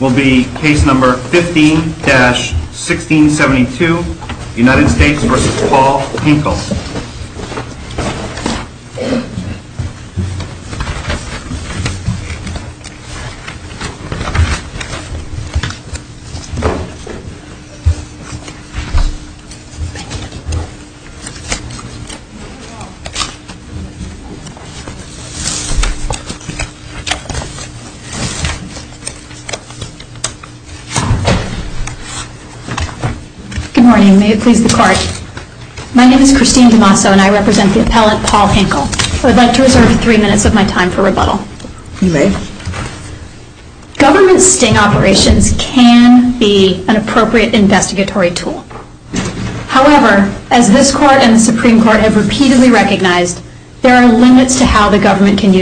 will be case number 15-1672 United States v. Paul Hinkel Good morning. May it please the Court. My name is Christine DiMasso and I represent the appellant Paul Hinkel. I would like to reserve three minutes of my time for rebuttal. You may. Government sting operations can be an appropriate investigatory tool. However, as this Court and the Supreme Court have repeatedly recognized, there are limits to how the government can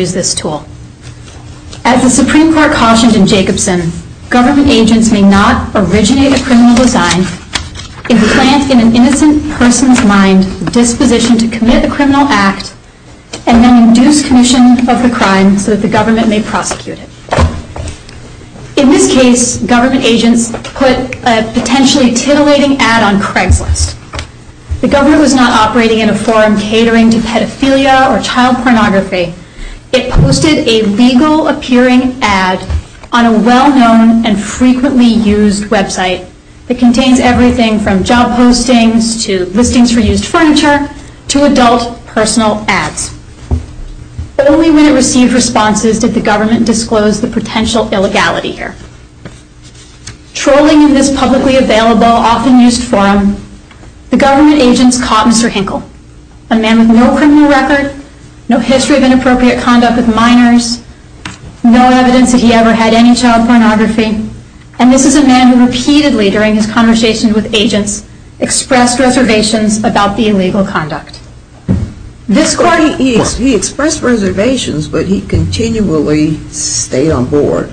In this case, government agents put a potentially titillating ad on Craigslist. The government was not operating in a forum catering to pedophilia or child pornography. It posted a legal-appearing ad on a well-known and frequently used website that contains everything from job postings to listings for used furniture to adult personal ads. But only when it received responses did the government disclose the potential illegality here. Trolling in this publicly available, often used forum, the government agents caught Mr. Hinkel, a man with no criminal record, no history of inappropriate conduct with minors, no evidence that he ever had any child pornography, and this is a man who repeatedly, during his conversation with agents, expressed reservations about the illegal conduct. This Court He expressed reservations, but he continually stayed on board.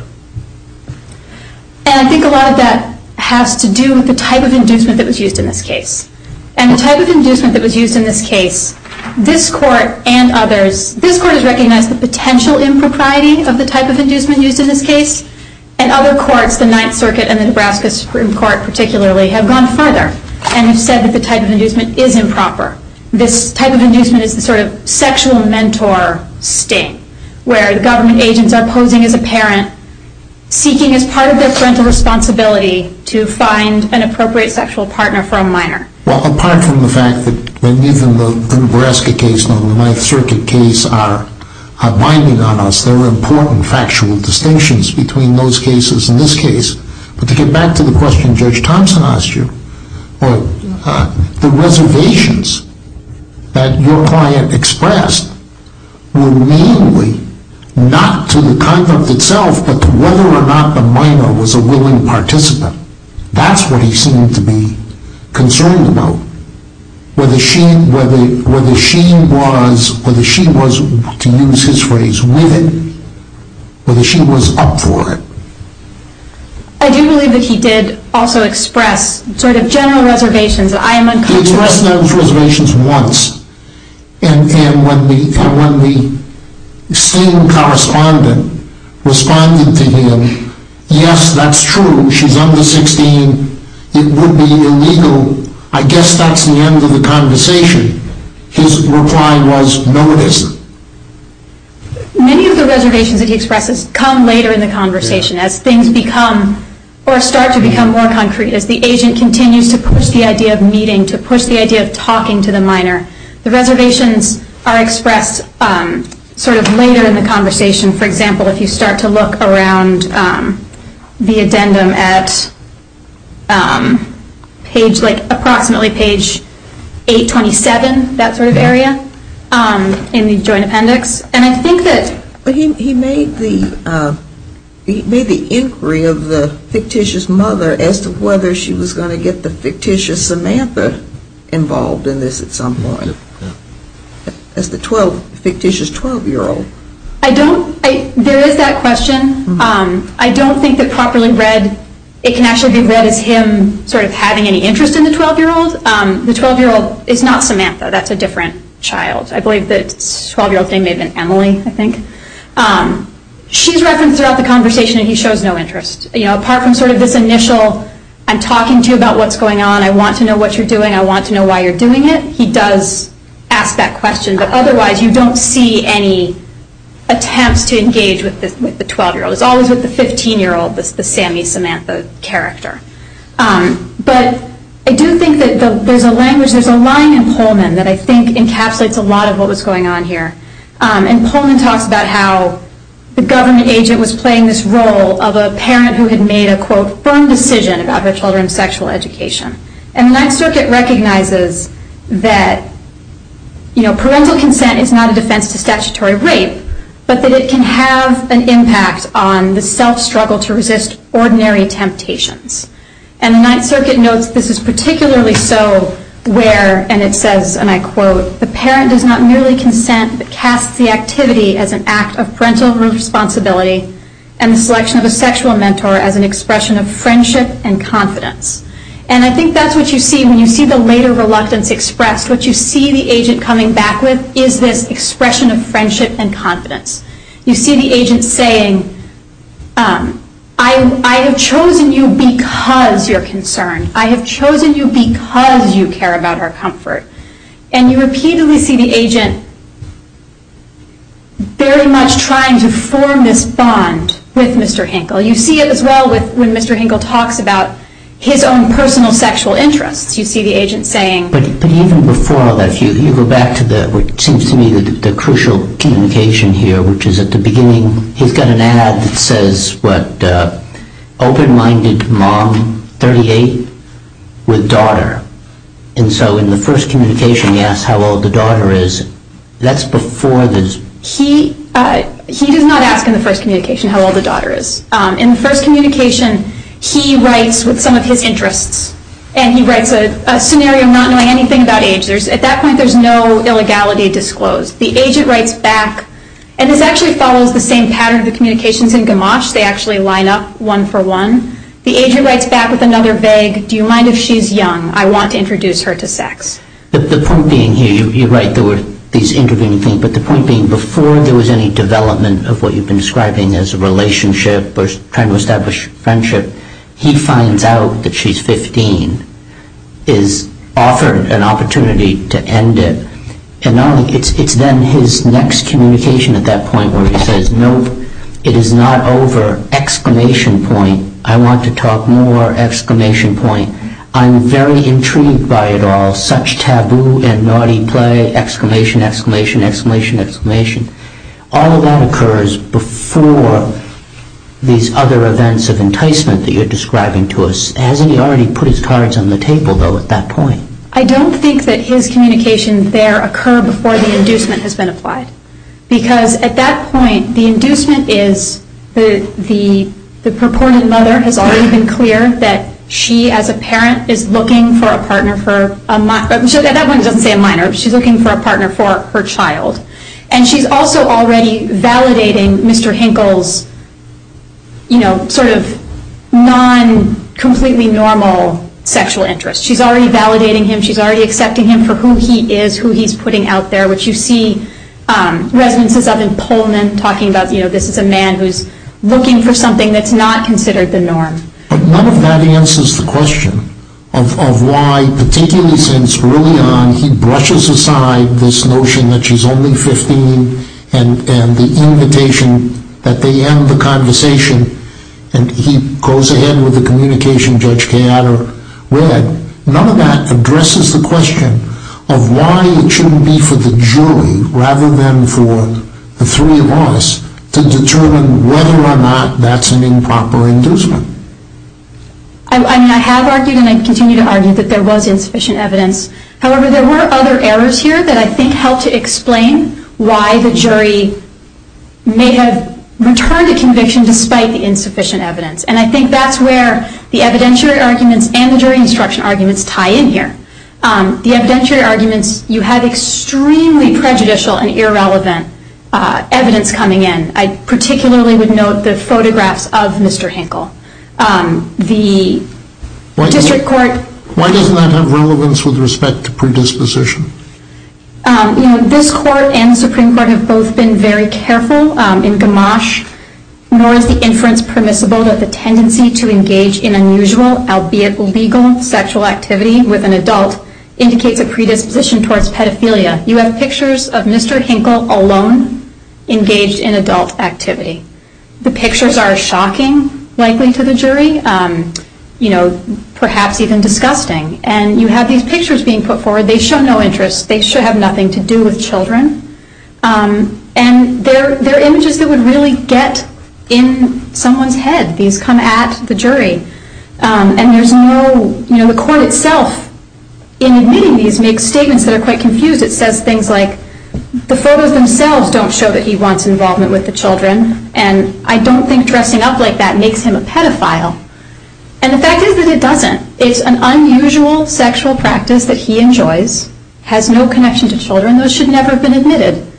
And I think a lot of that has to do with the type of inducement that was used in this case. And the type of inducement that was used in this case, this Court and others, this Court has recognized the potential impropriety of the type of inducement used in this case, and other courts, the Ninth Circuit and the Nebraska Supreme Court particularly, have gone further and have said that the type of inducement is improper. This type of inducement is the sort of sexual mentor sting, where the government agents are posing as a parent, seeking as part of their parental responsibility to find an appropriate sexual partner for a minor. Well, apart from the fact that even the Nebraska case and the Ninth Circuit case are binding on us, there are important factual distinctions between those cases and this case. But to get back to the question Judge Thompson asked you, the reservations that your client expressed were mainly not to the conduct itself, but to whether or not the minor was a willing adult. Whether she was, to use his phrase, with it, or whether she was up for it. I do believe that he did also express sort of general reservations. He expressed those reservations once. And when the scene correspondent responded to the scene, it would be illegal. I guess that's the end of the conversation. His reply was, no it isn't. Many of the reservations that he expresses come later in the conversation, as things become or start to become more concrete, as the agent continues to push the idea of meeting, to push the idea of talking to the minor. The reservations are expressed sort of later in the conversation. For example, if you start to look around the addendum at approximately page 827, that sort of area, in the joint appendix. He made the inquiry of the fictitious mother as to whether she was going to get the fictitious 12-year-old. There is that question. I don't think that properly read, it can actually be read as him sort of having any interest in the 12-year-old. The 12-year-old is not Samantha. That's a different child. I believe the 12-year-old's name may have been Emily, I think. She's referenced throughout the conversation, and he shows no interest. Apart from sort of this initial, I'm talking to you about what's going on, I want to know what you're doing, I want to know why you're doing it, he does ask that question. But otherwise, you don't see any attempts to engage with the 12-year-old. It's always with the 15-year-old, the Sammy-Samantha character. But I do think that there's a language, there's a line in Pullman that I think encapsulates a lot of what was going on here. And Pullman talks about how the government agent was playing this role of a parent who had made a, quote, firm decision about their children's sexual education. And the Ninth Circuit recognizes that, you know, parental consent is not a defense to statutory rape, but that it can have an impact on the self-struggle to resist ordinary temptations. And the Ninth Circuit notes this is particularly so where, and it says, and I quote, the parent does not merely consent, but casts the activity as an act of parental responsibility and the selection of a sexual mentor as an expression of friendship and confidence. And I think that's what you see when you see the later reluctance expressed. What you see the agent coming back with is this expression of friendship and confidence. You see the agent saying, I have chosen you because you're concerned. I have chosen you because you care about our comfort. And you repeatedly see the agent very much trying to form this bond with Mr. Hinkle. You see it as well when Mr. Hinkle talks about his own personal sexual interests. You see the agent saying. But even before all that, if you go back to what seems to me the crucial communication here, which is at the beginning, he's got an ad that says, what, open-minded mom, 38, with daughter. And so in the first communication he asks how old the daughter is. That's before there's. He does not ask in the first communication how old the daughter is. In the first communication he writes with some of his interests. And he writes a scenario not knowing anything about age. At that point there's no illegality disclosed. The agent writes back, and this actually follows the same pattern of the communications in Gamache. They actually line up one for one. The agent writes back with another vague, do you mind if she's young? I want to introduce her to sex. The point being here, you're right, there were these intervening things. But the point being before there was any development of what you've been describing as a relationship or trying to establish friendship, he finds out that she's 15, is offered an opportunity to end it. And it's then his next communication at that point where he says, no, it is not over, exclamation point. I want to talk more, exclamation point. I'm very intrigued by it all. Such taboo and naughty play, exclamation, exclamation, exclamation, exclamation. All of that occurs before these other events of enticement that you're describing to us. Hasn't he already put his cards on the table, though, at that point? I don't think that his communication there occurred before the inducement has been applied. Because at that point the inducement is the purported mother has already been clear that she as a parent is looking for a partner for her child. And she's also already validating Mr. Hinkle's sort of non-completely normal sexual interest. She's already validating him. She's already accepting him for who he is, who he's putting out there, which you see resonances of in Pullman talking about this is a man who's looking for something that's not considered the norm. But none of that answers the question of why, particularly since early on, he brushes aside this notion that she's only 15 and the invitation that they end the conversation. And he goes ahead with the communication Judge Keaner read. None of that addresses the question of why it shouldn't be for the jury rather than for the three of us to determine whether or not that's an improper inducement. I mean, I have argued and I continue to argue that there was insufficient evidence. However, there were other errors here that I think help to explain why the jury may have returned a conviction despite the insufficient evidence. And I think that's where the evidentiary arguments and the jury instruction arguments tie in here. The evidentiary arguments, you have extremely prejudicial and irrelevant evidence coming in. I particularly would note the photographs of Mr. Hankel. The district court. Why doesn't that have relevance with respect to predisposition? This court and the Supreme Court have both been very careful in Gamache. Nor is the inference permissible that the tendency to engage in unusual, albeit legal, sexual activity with an adult indicates a predisposition towards pedophilia. You have pictures of Mr. Hankel alone engaged in adult activity. The pictures are shocking, likely to the jury. You know, perhaps even disgusting. And you have these pictures being put forward. They show no interest. They should have nothing to do with children. And they're images that would really get in someone's head. These come at the jury. And there's no, you know, the court itself in admitting these makes statements that are quite confused. It says things like, the photos themselves don't show that he wants involvement with the children. And I don't think dressing up like that makes him a pedophile. And the fact is that it doesn't. It's an unusual sexual practice that he enjoys, has no connection to children. Those should never have been admitted.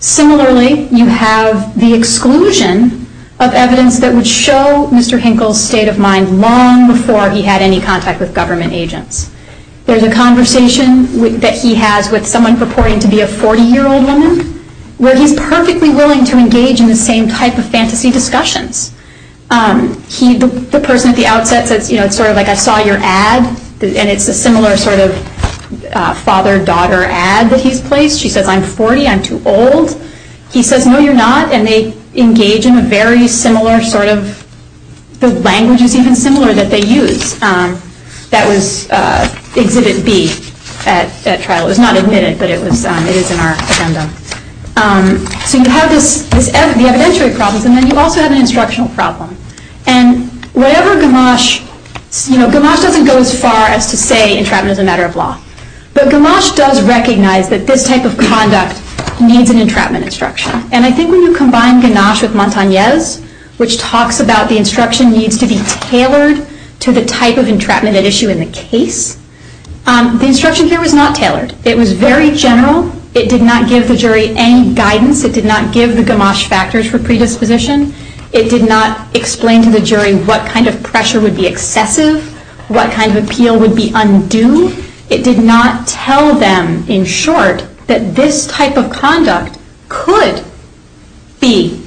Similarly, you have the exclusion of evidence that would show Mr. Hankel's state of mind long before he had any contact with government agents. There's a conversation that he has with someone purporting to be a 40-year-old woman, where he's perfectly willing to engage in the same type of fantasy discussions. The person at the outset says, you know, it's sort of like I saw your ad. And it's a similar sort of father-daughter ad that he's placed. She says, I'm 40, I'm too old. He says, no, you're not. And they engage in a very similar sort of, the language is even similar that they use. That was exhibit B at trial. It was not admitted, but it is in our agenda. So you have the evidentiary problems, and then you also have an instructional problem. And whatever Gamache, you know, Gamache doesn't go as far as to say entrapment is a matter of law. But Gamache does recognize that this type of conduct needs an entrapment instruction. And I think when you combine Gamache with Montagnez, which talks about the instruction needs to be tailored to the type of entrapment at issue in the case, the instruction here was not tailored. It was very general. It did not give the jury any guidance. It did not give the Gamache factors for predisposition. It did not explain to the jury what kind of pressure would be excessive, what kind of appeal would be undue. It did not tell them, in short, that this type of conduct could be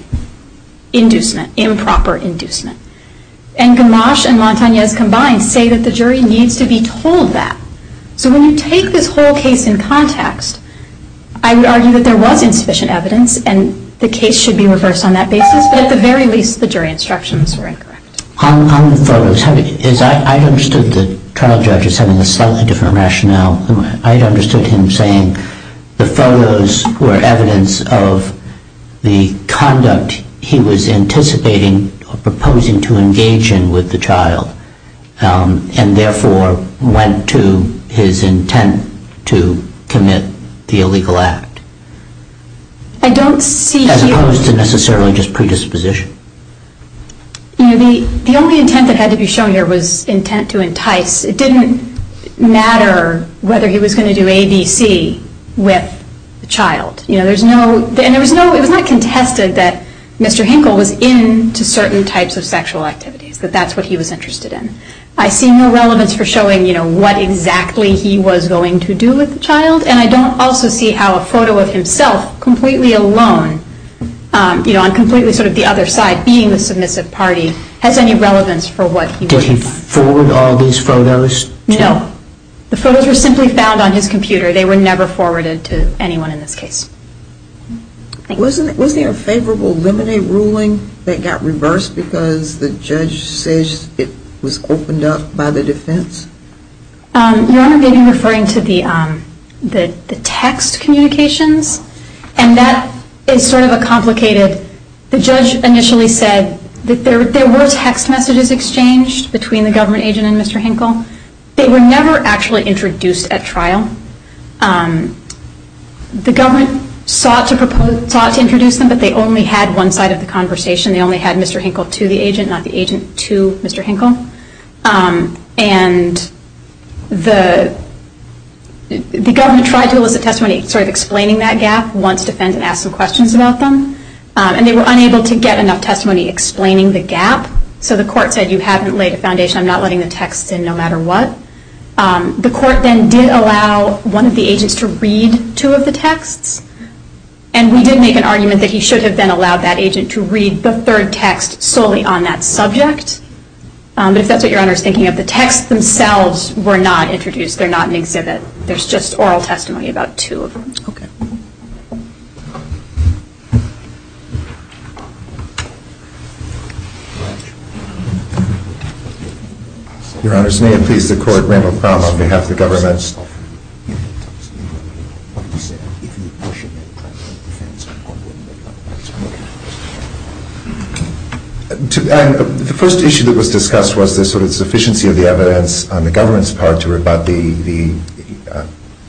inducement, improper inducement. And Gamache and Montagnez combined say that the jury needs to be told that. So when you take this whole case in context, I would argue that there was insufficient evidence, and the case should be reversed on that basis. But at the very least, the jury instructions were incorrect. On the photos, I understood the trial judge as having a slightly different rationale. I understood him saying the photos were evidence of the conduct he was anticipating or proposing to engage in with the child, and therefore went to his intent to commit the illegal act. I don't see here- As opposed to necessarily just predisposition. The only intent that had to be shown here was intent to entice. It didn't matter whether he was going to do A, B, C with the child. It was not contested that Mr. Hinkle was into certain types of sexual activities, that that's what he was interested in. I see no relevance for showing what exactly he was going to do with the child, and I don't also see how a photo of himself completely alone, on completely sort of the other side, being the submissive party, has any relevance for what he would do. Did he forward all these photos? No. The photos were simply found on his computer. They were never forwarded to anyone in this case. Thank you. Was there a favorable limine ruling that got reversed because the judge says it was opened up by the defense? You are maybe referring to the text communications, and that is sort of a complicated- The judge initially said that there were text messages exchanged between the government agent and Mr. Hinkle. They were never actually introduced at trial. The government sought to introduce them, but they only had one side of the conversation. They only had Mr. Hinkle to the agent, not the agent to Mr. Hinkle. And the government tried to elicit testimony sort of explaining that gap, once the defendant asked some questions about them, and they were unable to get enough testimony explaining the gap, so the court said you haven't laid a foundation. I'm not letting the text in no matter what. The court then did allow one of the agents to read two of the texts, and we did make an argument that he should have then allowed that agent to read the third text solely on that subject. But if that's what Your Honor is thinking of, the texts themselves were not introduced. They're not an exhibit. There's just oral testimony about two of them. Okay. Your Honors, may it please the Court, Randall Crum on behalf of the government. The first issue that was discussed was the sort of sufficiency of the evidence on the government's part to rebut the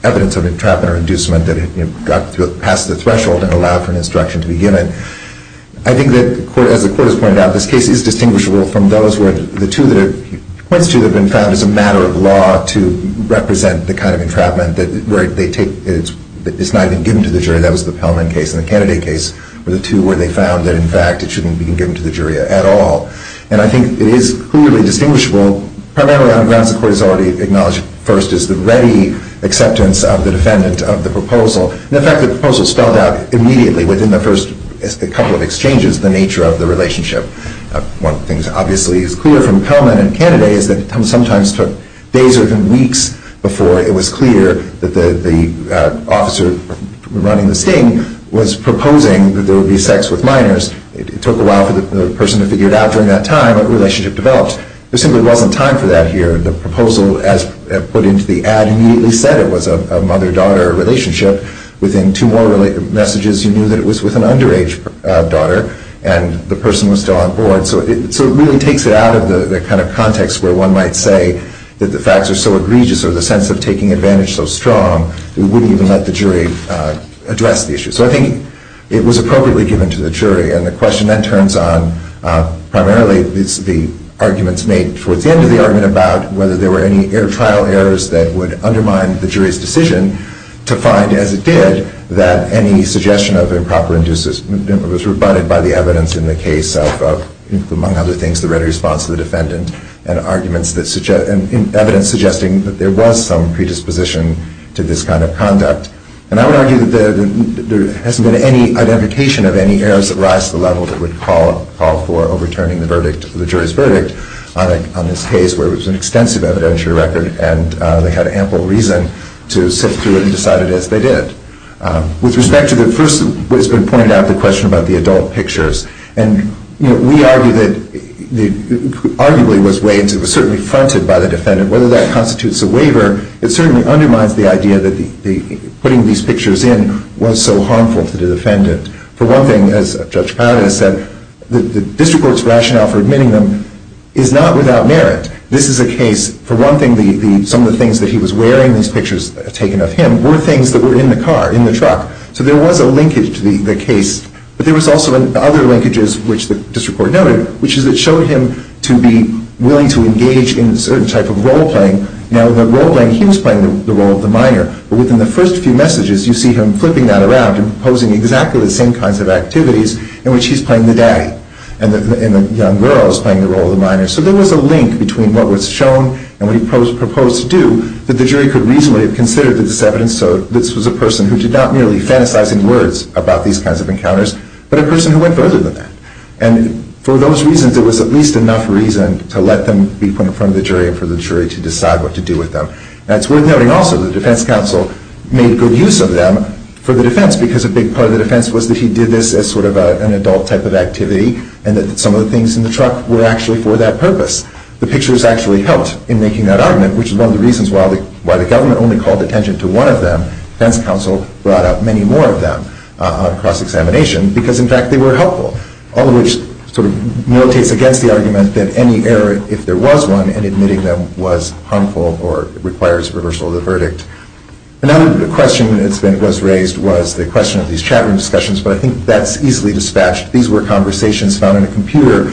evidence of entrapment or inducement that got past the threshold and allowed for an instruction to be given. I think that, as the Court has pointed out, this case is distinguishable from those where the two that it points to have been found as a matter of law to represent the kind of entrapment where it's not even given to the jury. That was the Pellman case and the Kennedy case were the two where they found that, in fact, it shouldn't be given to the jury at all. And I think it is clearly distinguishable primarily on grounds the Court has already acknowledged first is the ready acceptance of the defendant of the proposal. And, in fact, the proposal spelled out immediately within the first couple of exchanges the nature of the relationship. One of the things, obviously, is clear from Pellman and Kennedy is that it sometimes took days or even weeks before it was clear that the officer running the sting was proposing that there would be sex with minors. It took a while for the person to figure out during that time what relationship developed. There simply wasn't time for that here. The proposal, as put into the ad, immediately said it was a mother-daughter relationship. Within two more messages you knew that it was with an underage daughter and the person was still on board. So it really takes it out of the kind of context where one might say that the facts are so egregious or the sense of taking advantage so strong we wouldn't even let the jury address the issue. So I think it was appropriately given to the jury. And the question then turns on primarily the arguments made towards the end and to the argument about whether there were any trial errors that would undermine the jury's decision to find, as it did, that any suggestion of improper inducement was rebutted by the evidence in the case of, among other things, the ready response of the defendant and evidence suggesting that there was some predisposition to this kind of conduct. And I would argue that there hasn't been any identification of any errors that rise to the level that would call for overturning the verdict, on this case where it was an extensive evidentiary record and they had ample reason to sit through it and decide it as they did. With respect to the first, what has been pointed out, the question about the adult pictures. And we argue that it arguably was weighed, it was certainly fronted by the defendant. Whether that constitutes a waiver, it certainly undermines the idea that putting these pictures in was so harmful to the defendant. For one thing, as Judge Paglia said, the district court's rationale for admitting them is not without merit. This is a case, for one thing, some of the things that he was wearing, these pictures taken of him, were things that were in the car, in the truck. So there was a linkage to the case. But there was also other linkages, which the district court noted, which is it showed him to be willing to engage in a certain type of role-playing. Now, in the role-playing, he was playing the role of the minor. But within the first few messages, you see him flipping that around and proposing exactly the same kinds of activities in which he's playing the daddy and the young girl is playing the role of the minor. So there was a link between what was shown and what he proposed to do that the jury could reasonably have considered the disevidence. So this was a person who did not merely fantasize in words about these kinds of encounters, but a person who went further than that. And for those reasons, there was at least enough reason to let them be put in front of the jury and for the jury to decide what to do with them. Now, it's worth noting also that the defense counsel made good use of them for the defense because a big part of the defense was that he did this as sort of an adult type of activity and that some of the things in the truck were actually for that purpose. The pictures actually helped in making that argument, which is one of the reasons why the government only called attention to one of them. The defense counsel brought up many more of them on cross-examination because, in fact, they were helpful, all of which sort of notates against the argument that any error, if there was one, in admitting them was harmful or requires reversal of the verdict. Another question that was raised was the question of these chat room discussions, but I think that's easily dispatched. These were conversations found on a computer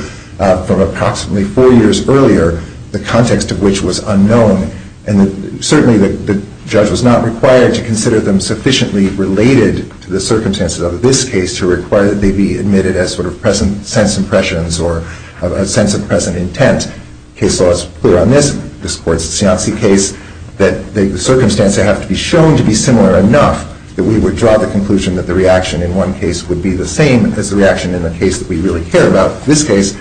from approximately four years earlier, the context of which was unknown. And certainly the judge was not required to consider them sufficiently related to the circumstances of this case to require that they be admitted as sort of sense impressions or a sense of present intent. Case laws put it on this court's Cianci case that the circumstances have to be shown to be similar enough that we would draw the conclusion that the reaction in one case would be the same as the reaction in the case that we really care about. In this case,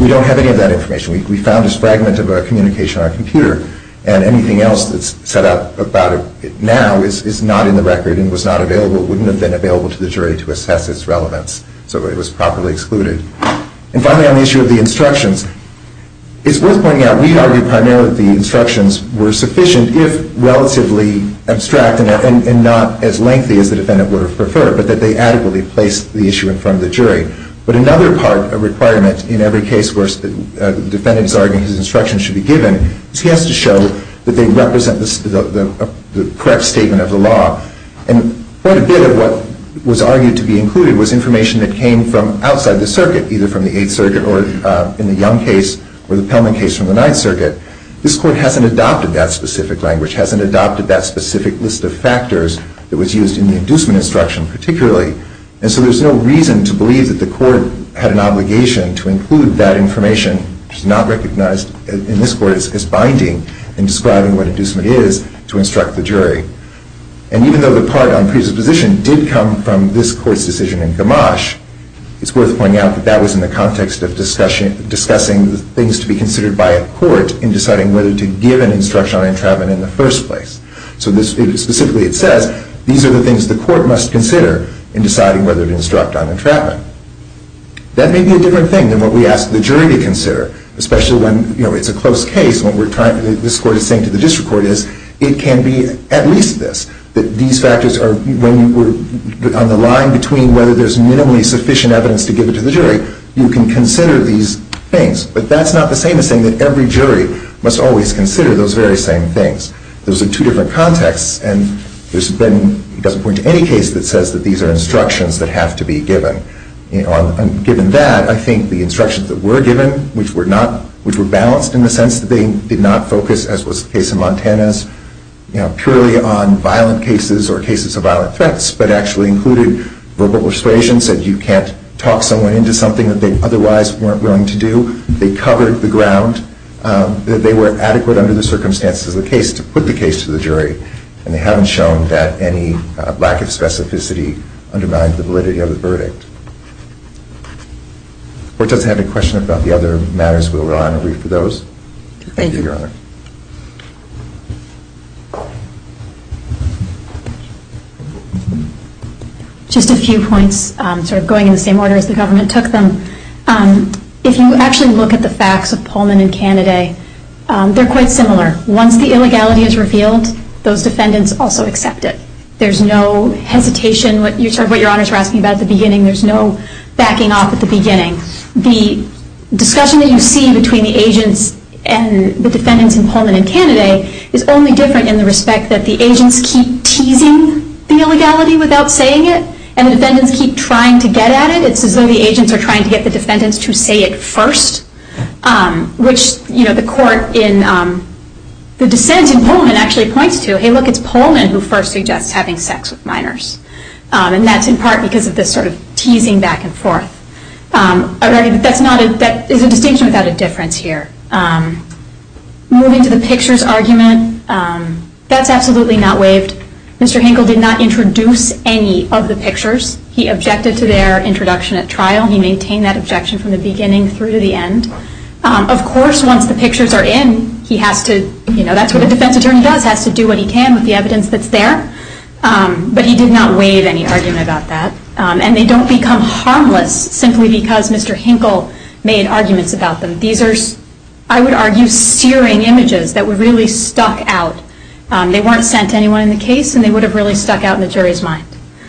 we don't have any of that information. We found this fragment of a communication on a computer and anything else that's set out about it now is not in the record and was not available, wouldn't have been available to the jury to assess its relevance, so it was properly excluded. And finally, on the issue of the instructions, it's worth pointing out we argued primarily that the instructions were sufficient if relatively abstract and not as lengthy as the defendant would have preferred, but that they adequately placed the issue in front of the jury. But another part, a requirement in every case where the defendant is arguing his instructions should be given, is he has to show that they represent the correct statement of the law. And quite a bit of what was argued to be included was information that came from outside the circuit, either from the Eighth Circuit or in the Young case or the Pelman case from the Ninth Circuit. This court hasn't adopted that specific language, hasn't adopted that specific list of factors that was used in the inducement instruction particularly, and so there's no reason to believe that the court had an obligation to include that information, which is not recognized in this court as binding, in describing what inducement is to instruct the jury. And even though the part on presupposition did come from this court's decision in Gamache, it's worth pointing out that that was in the context of discussing the things to be considered by a court in deciding whether to give an instruction on entrapment in the first place. So specifically it says, these are the things the court must consider in deciding whether to instruct on entrapment. That may be a different thing than what we ask the jury to consider, especially when it's a close case, what this court is saying to the district court is, it can be at least this, that these factors are on the line between whether there's minimally sufficient evidence to give it to the jury, you can consider these things. But that's not the same as saying that every jury must always consider those very same things. Those are two different contexts, and it doesn't point to any case that says that these are instructions that have to be given. Given that, I think the instructions that were given, which were balanced in the sense that they did not focus, as was the case in Montana, purely on violent cases or cases of violent threats, but actually included verbal persuasion, said you can't talk someone into something that they otherwise weren't willing to do. They covered the ground, that they were adequate under the circumstances of the case to put the case to the jury, and they haven't shown that any lack of specificity undermined the validity of the verdict. If the court doesn't have any questions about the other matters, we'll rely on a brief for those. Thank you, Your Honor. Just a few points, sort of going in the same order as the government took them. If you actually look at the facts of Pullman and Cannaday, they're quite similar. Once the illegality is revealed, those defendants also accept it. There's no hesitation. What Your Honors were asking about at the beginning, there's no backing off at the beginning. The discussion that you see between the agents and the defendants in Pullman and Cannaday is only different in the respect that the agents keep teasing the illegality without saying it, and the defendants keep trying to get at it. It's as though the agents are trying to get the defendants to say it first, which the court in the dissent in Pullman actually points to. Hey, look, it's Pullman who first suggests having sex with minors. And that's in part because of this teasing back and forth. That is a distinction without a difference here. Moving to the pictures argument, that's absolutely not waived. Mr. Hinkle did not introduce any of the pictures. He objected to their introduction at trial. He maintained that objection from the beginning through to the end. Of course, once the pictures are in, that's what a defense attorney does, has to do what he can with the evidence that's there. But he did not waive any argument about that. And they don't become harmless simply because Mr. Hinkle made arguments about them. These are, I would argue, searing images that were really stuck out. They weren't sent to anyone in the case, and they would have really stuck out in the jury's mind.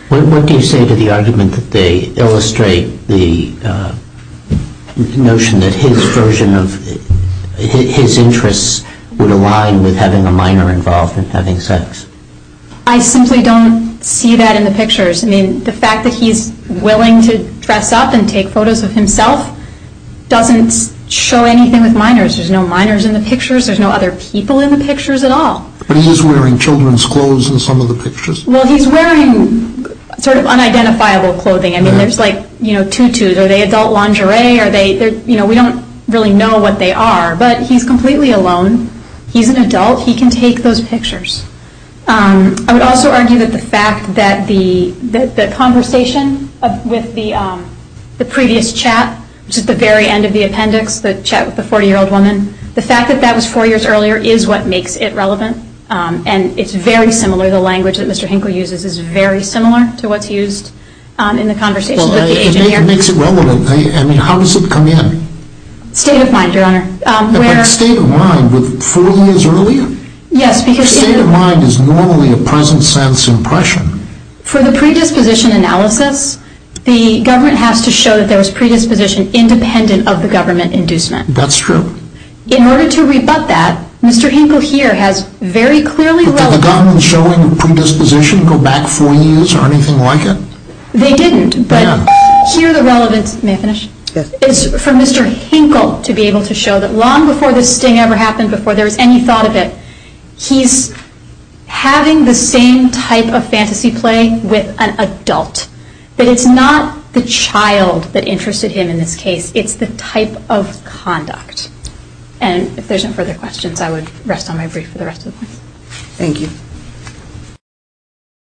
What do you say to the argument that they illustrate the notion that his version of his interests would align with having a minor involved in having sex? I simply don't see that in the pictures. I mean, the fact that he's willing to dress up and take photos of himself doesn't show anything with minors. There's no minors in the pictures. There's no other people in the pictures at all. But he is wearing children's clothes in some of the pictures. Well, he's wearing sort of unidentifiable clothing. I mean, there's like tutus. Are they adult lingerie? We don't really know what they are. But he's completely alone. He's an adult. He can take those pictures. I would also argue that the fact that the conversation with the previous chat, which is the very end of the appendix, the chat with the 40-year-old woman, the fact that that was four years earlier is what makes it relevant. And it's very similar. The language that Mr. Hinkle uses is very similar to what's used in the conversation with the agent here. I mean, how does it come in? State of mind, Your Honor. State of mind with four years earlier? Yes, because... State of mind is normally a present-sense impression. For the predisposition analysis, the government has to show that there was predisposition independent of the government inducement. That's true. In order to rebut that, Mr. Hinkle here has very clearly... Did the government show any predisposition to go back four years or anything like it? They didn't, but... May I finish? Yes. It's for Mr. Hinkle to be able to show that long before this thing ever happened, before there was any thought of it, he's having the same type of fantasy play with an adult. But it's not the child that interested him in this case. It's the type of conduct. And if there's no further questions, I would rest on my brief for the rest of the point. Thank you.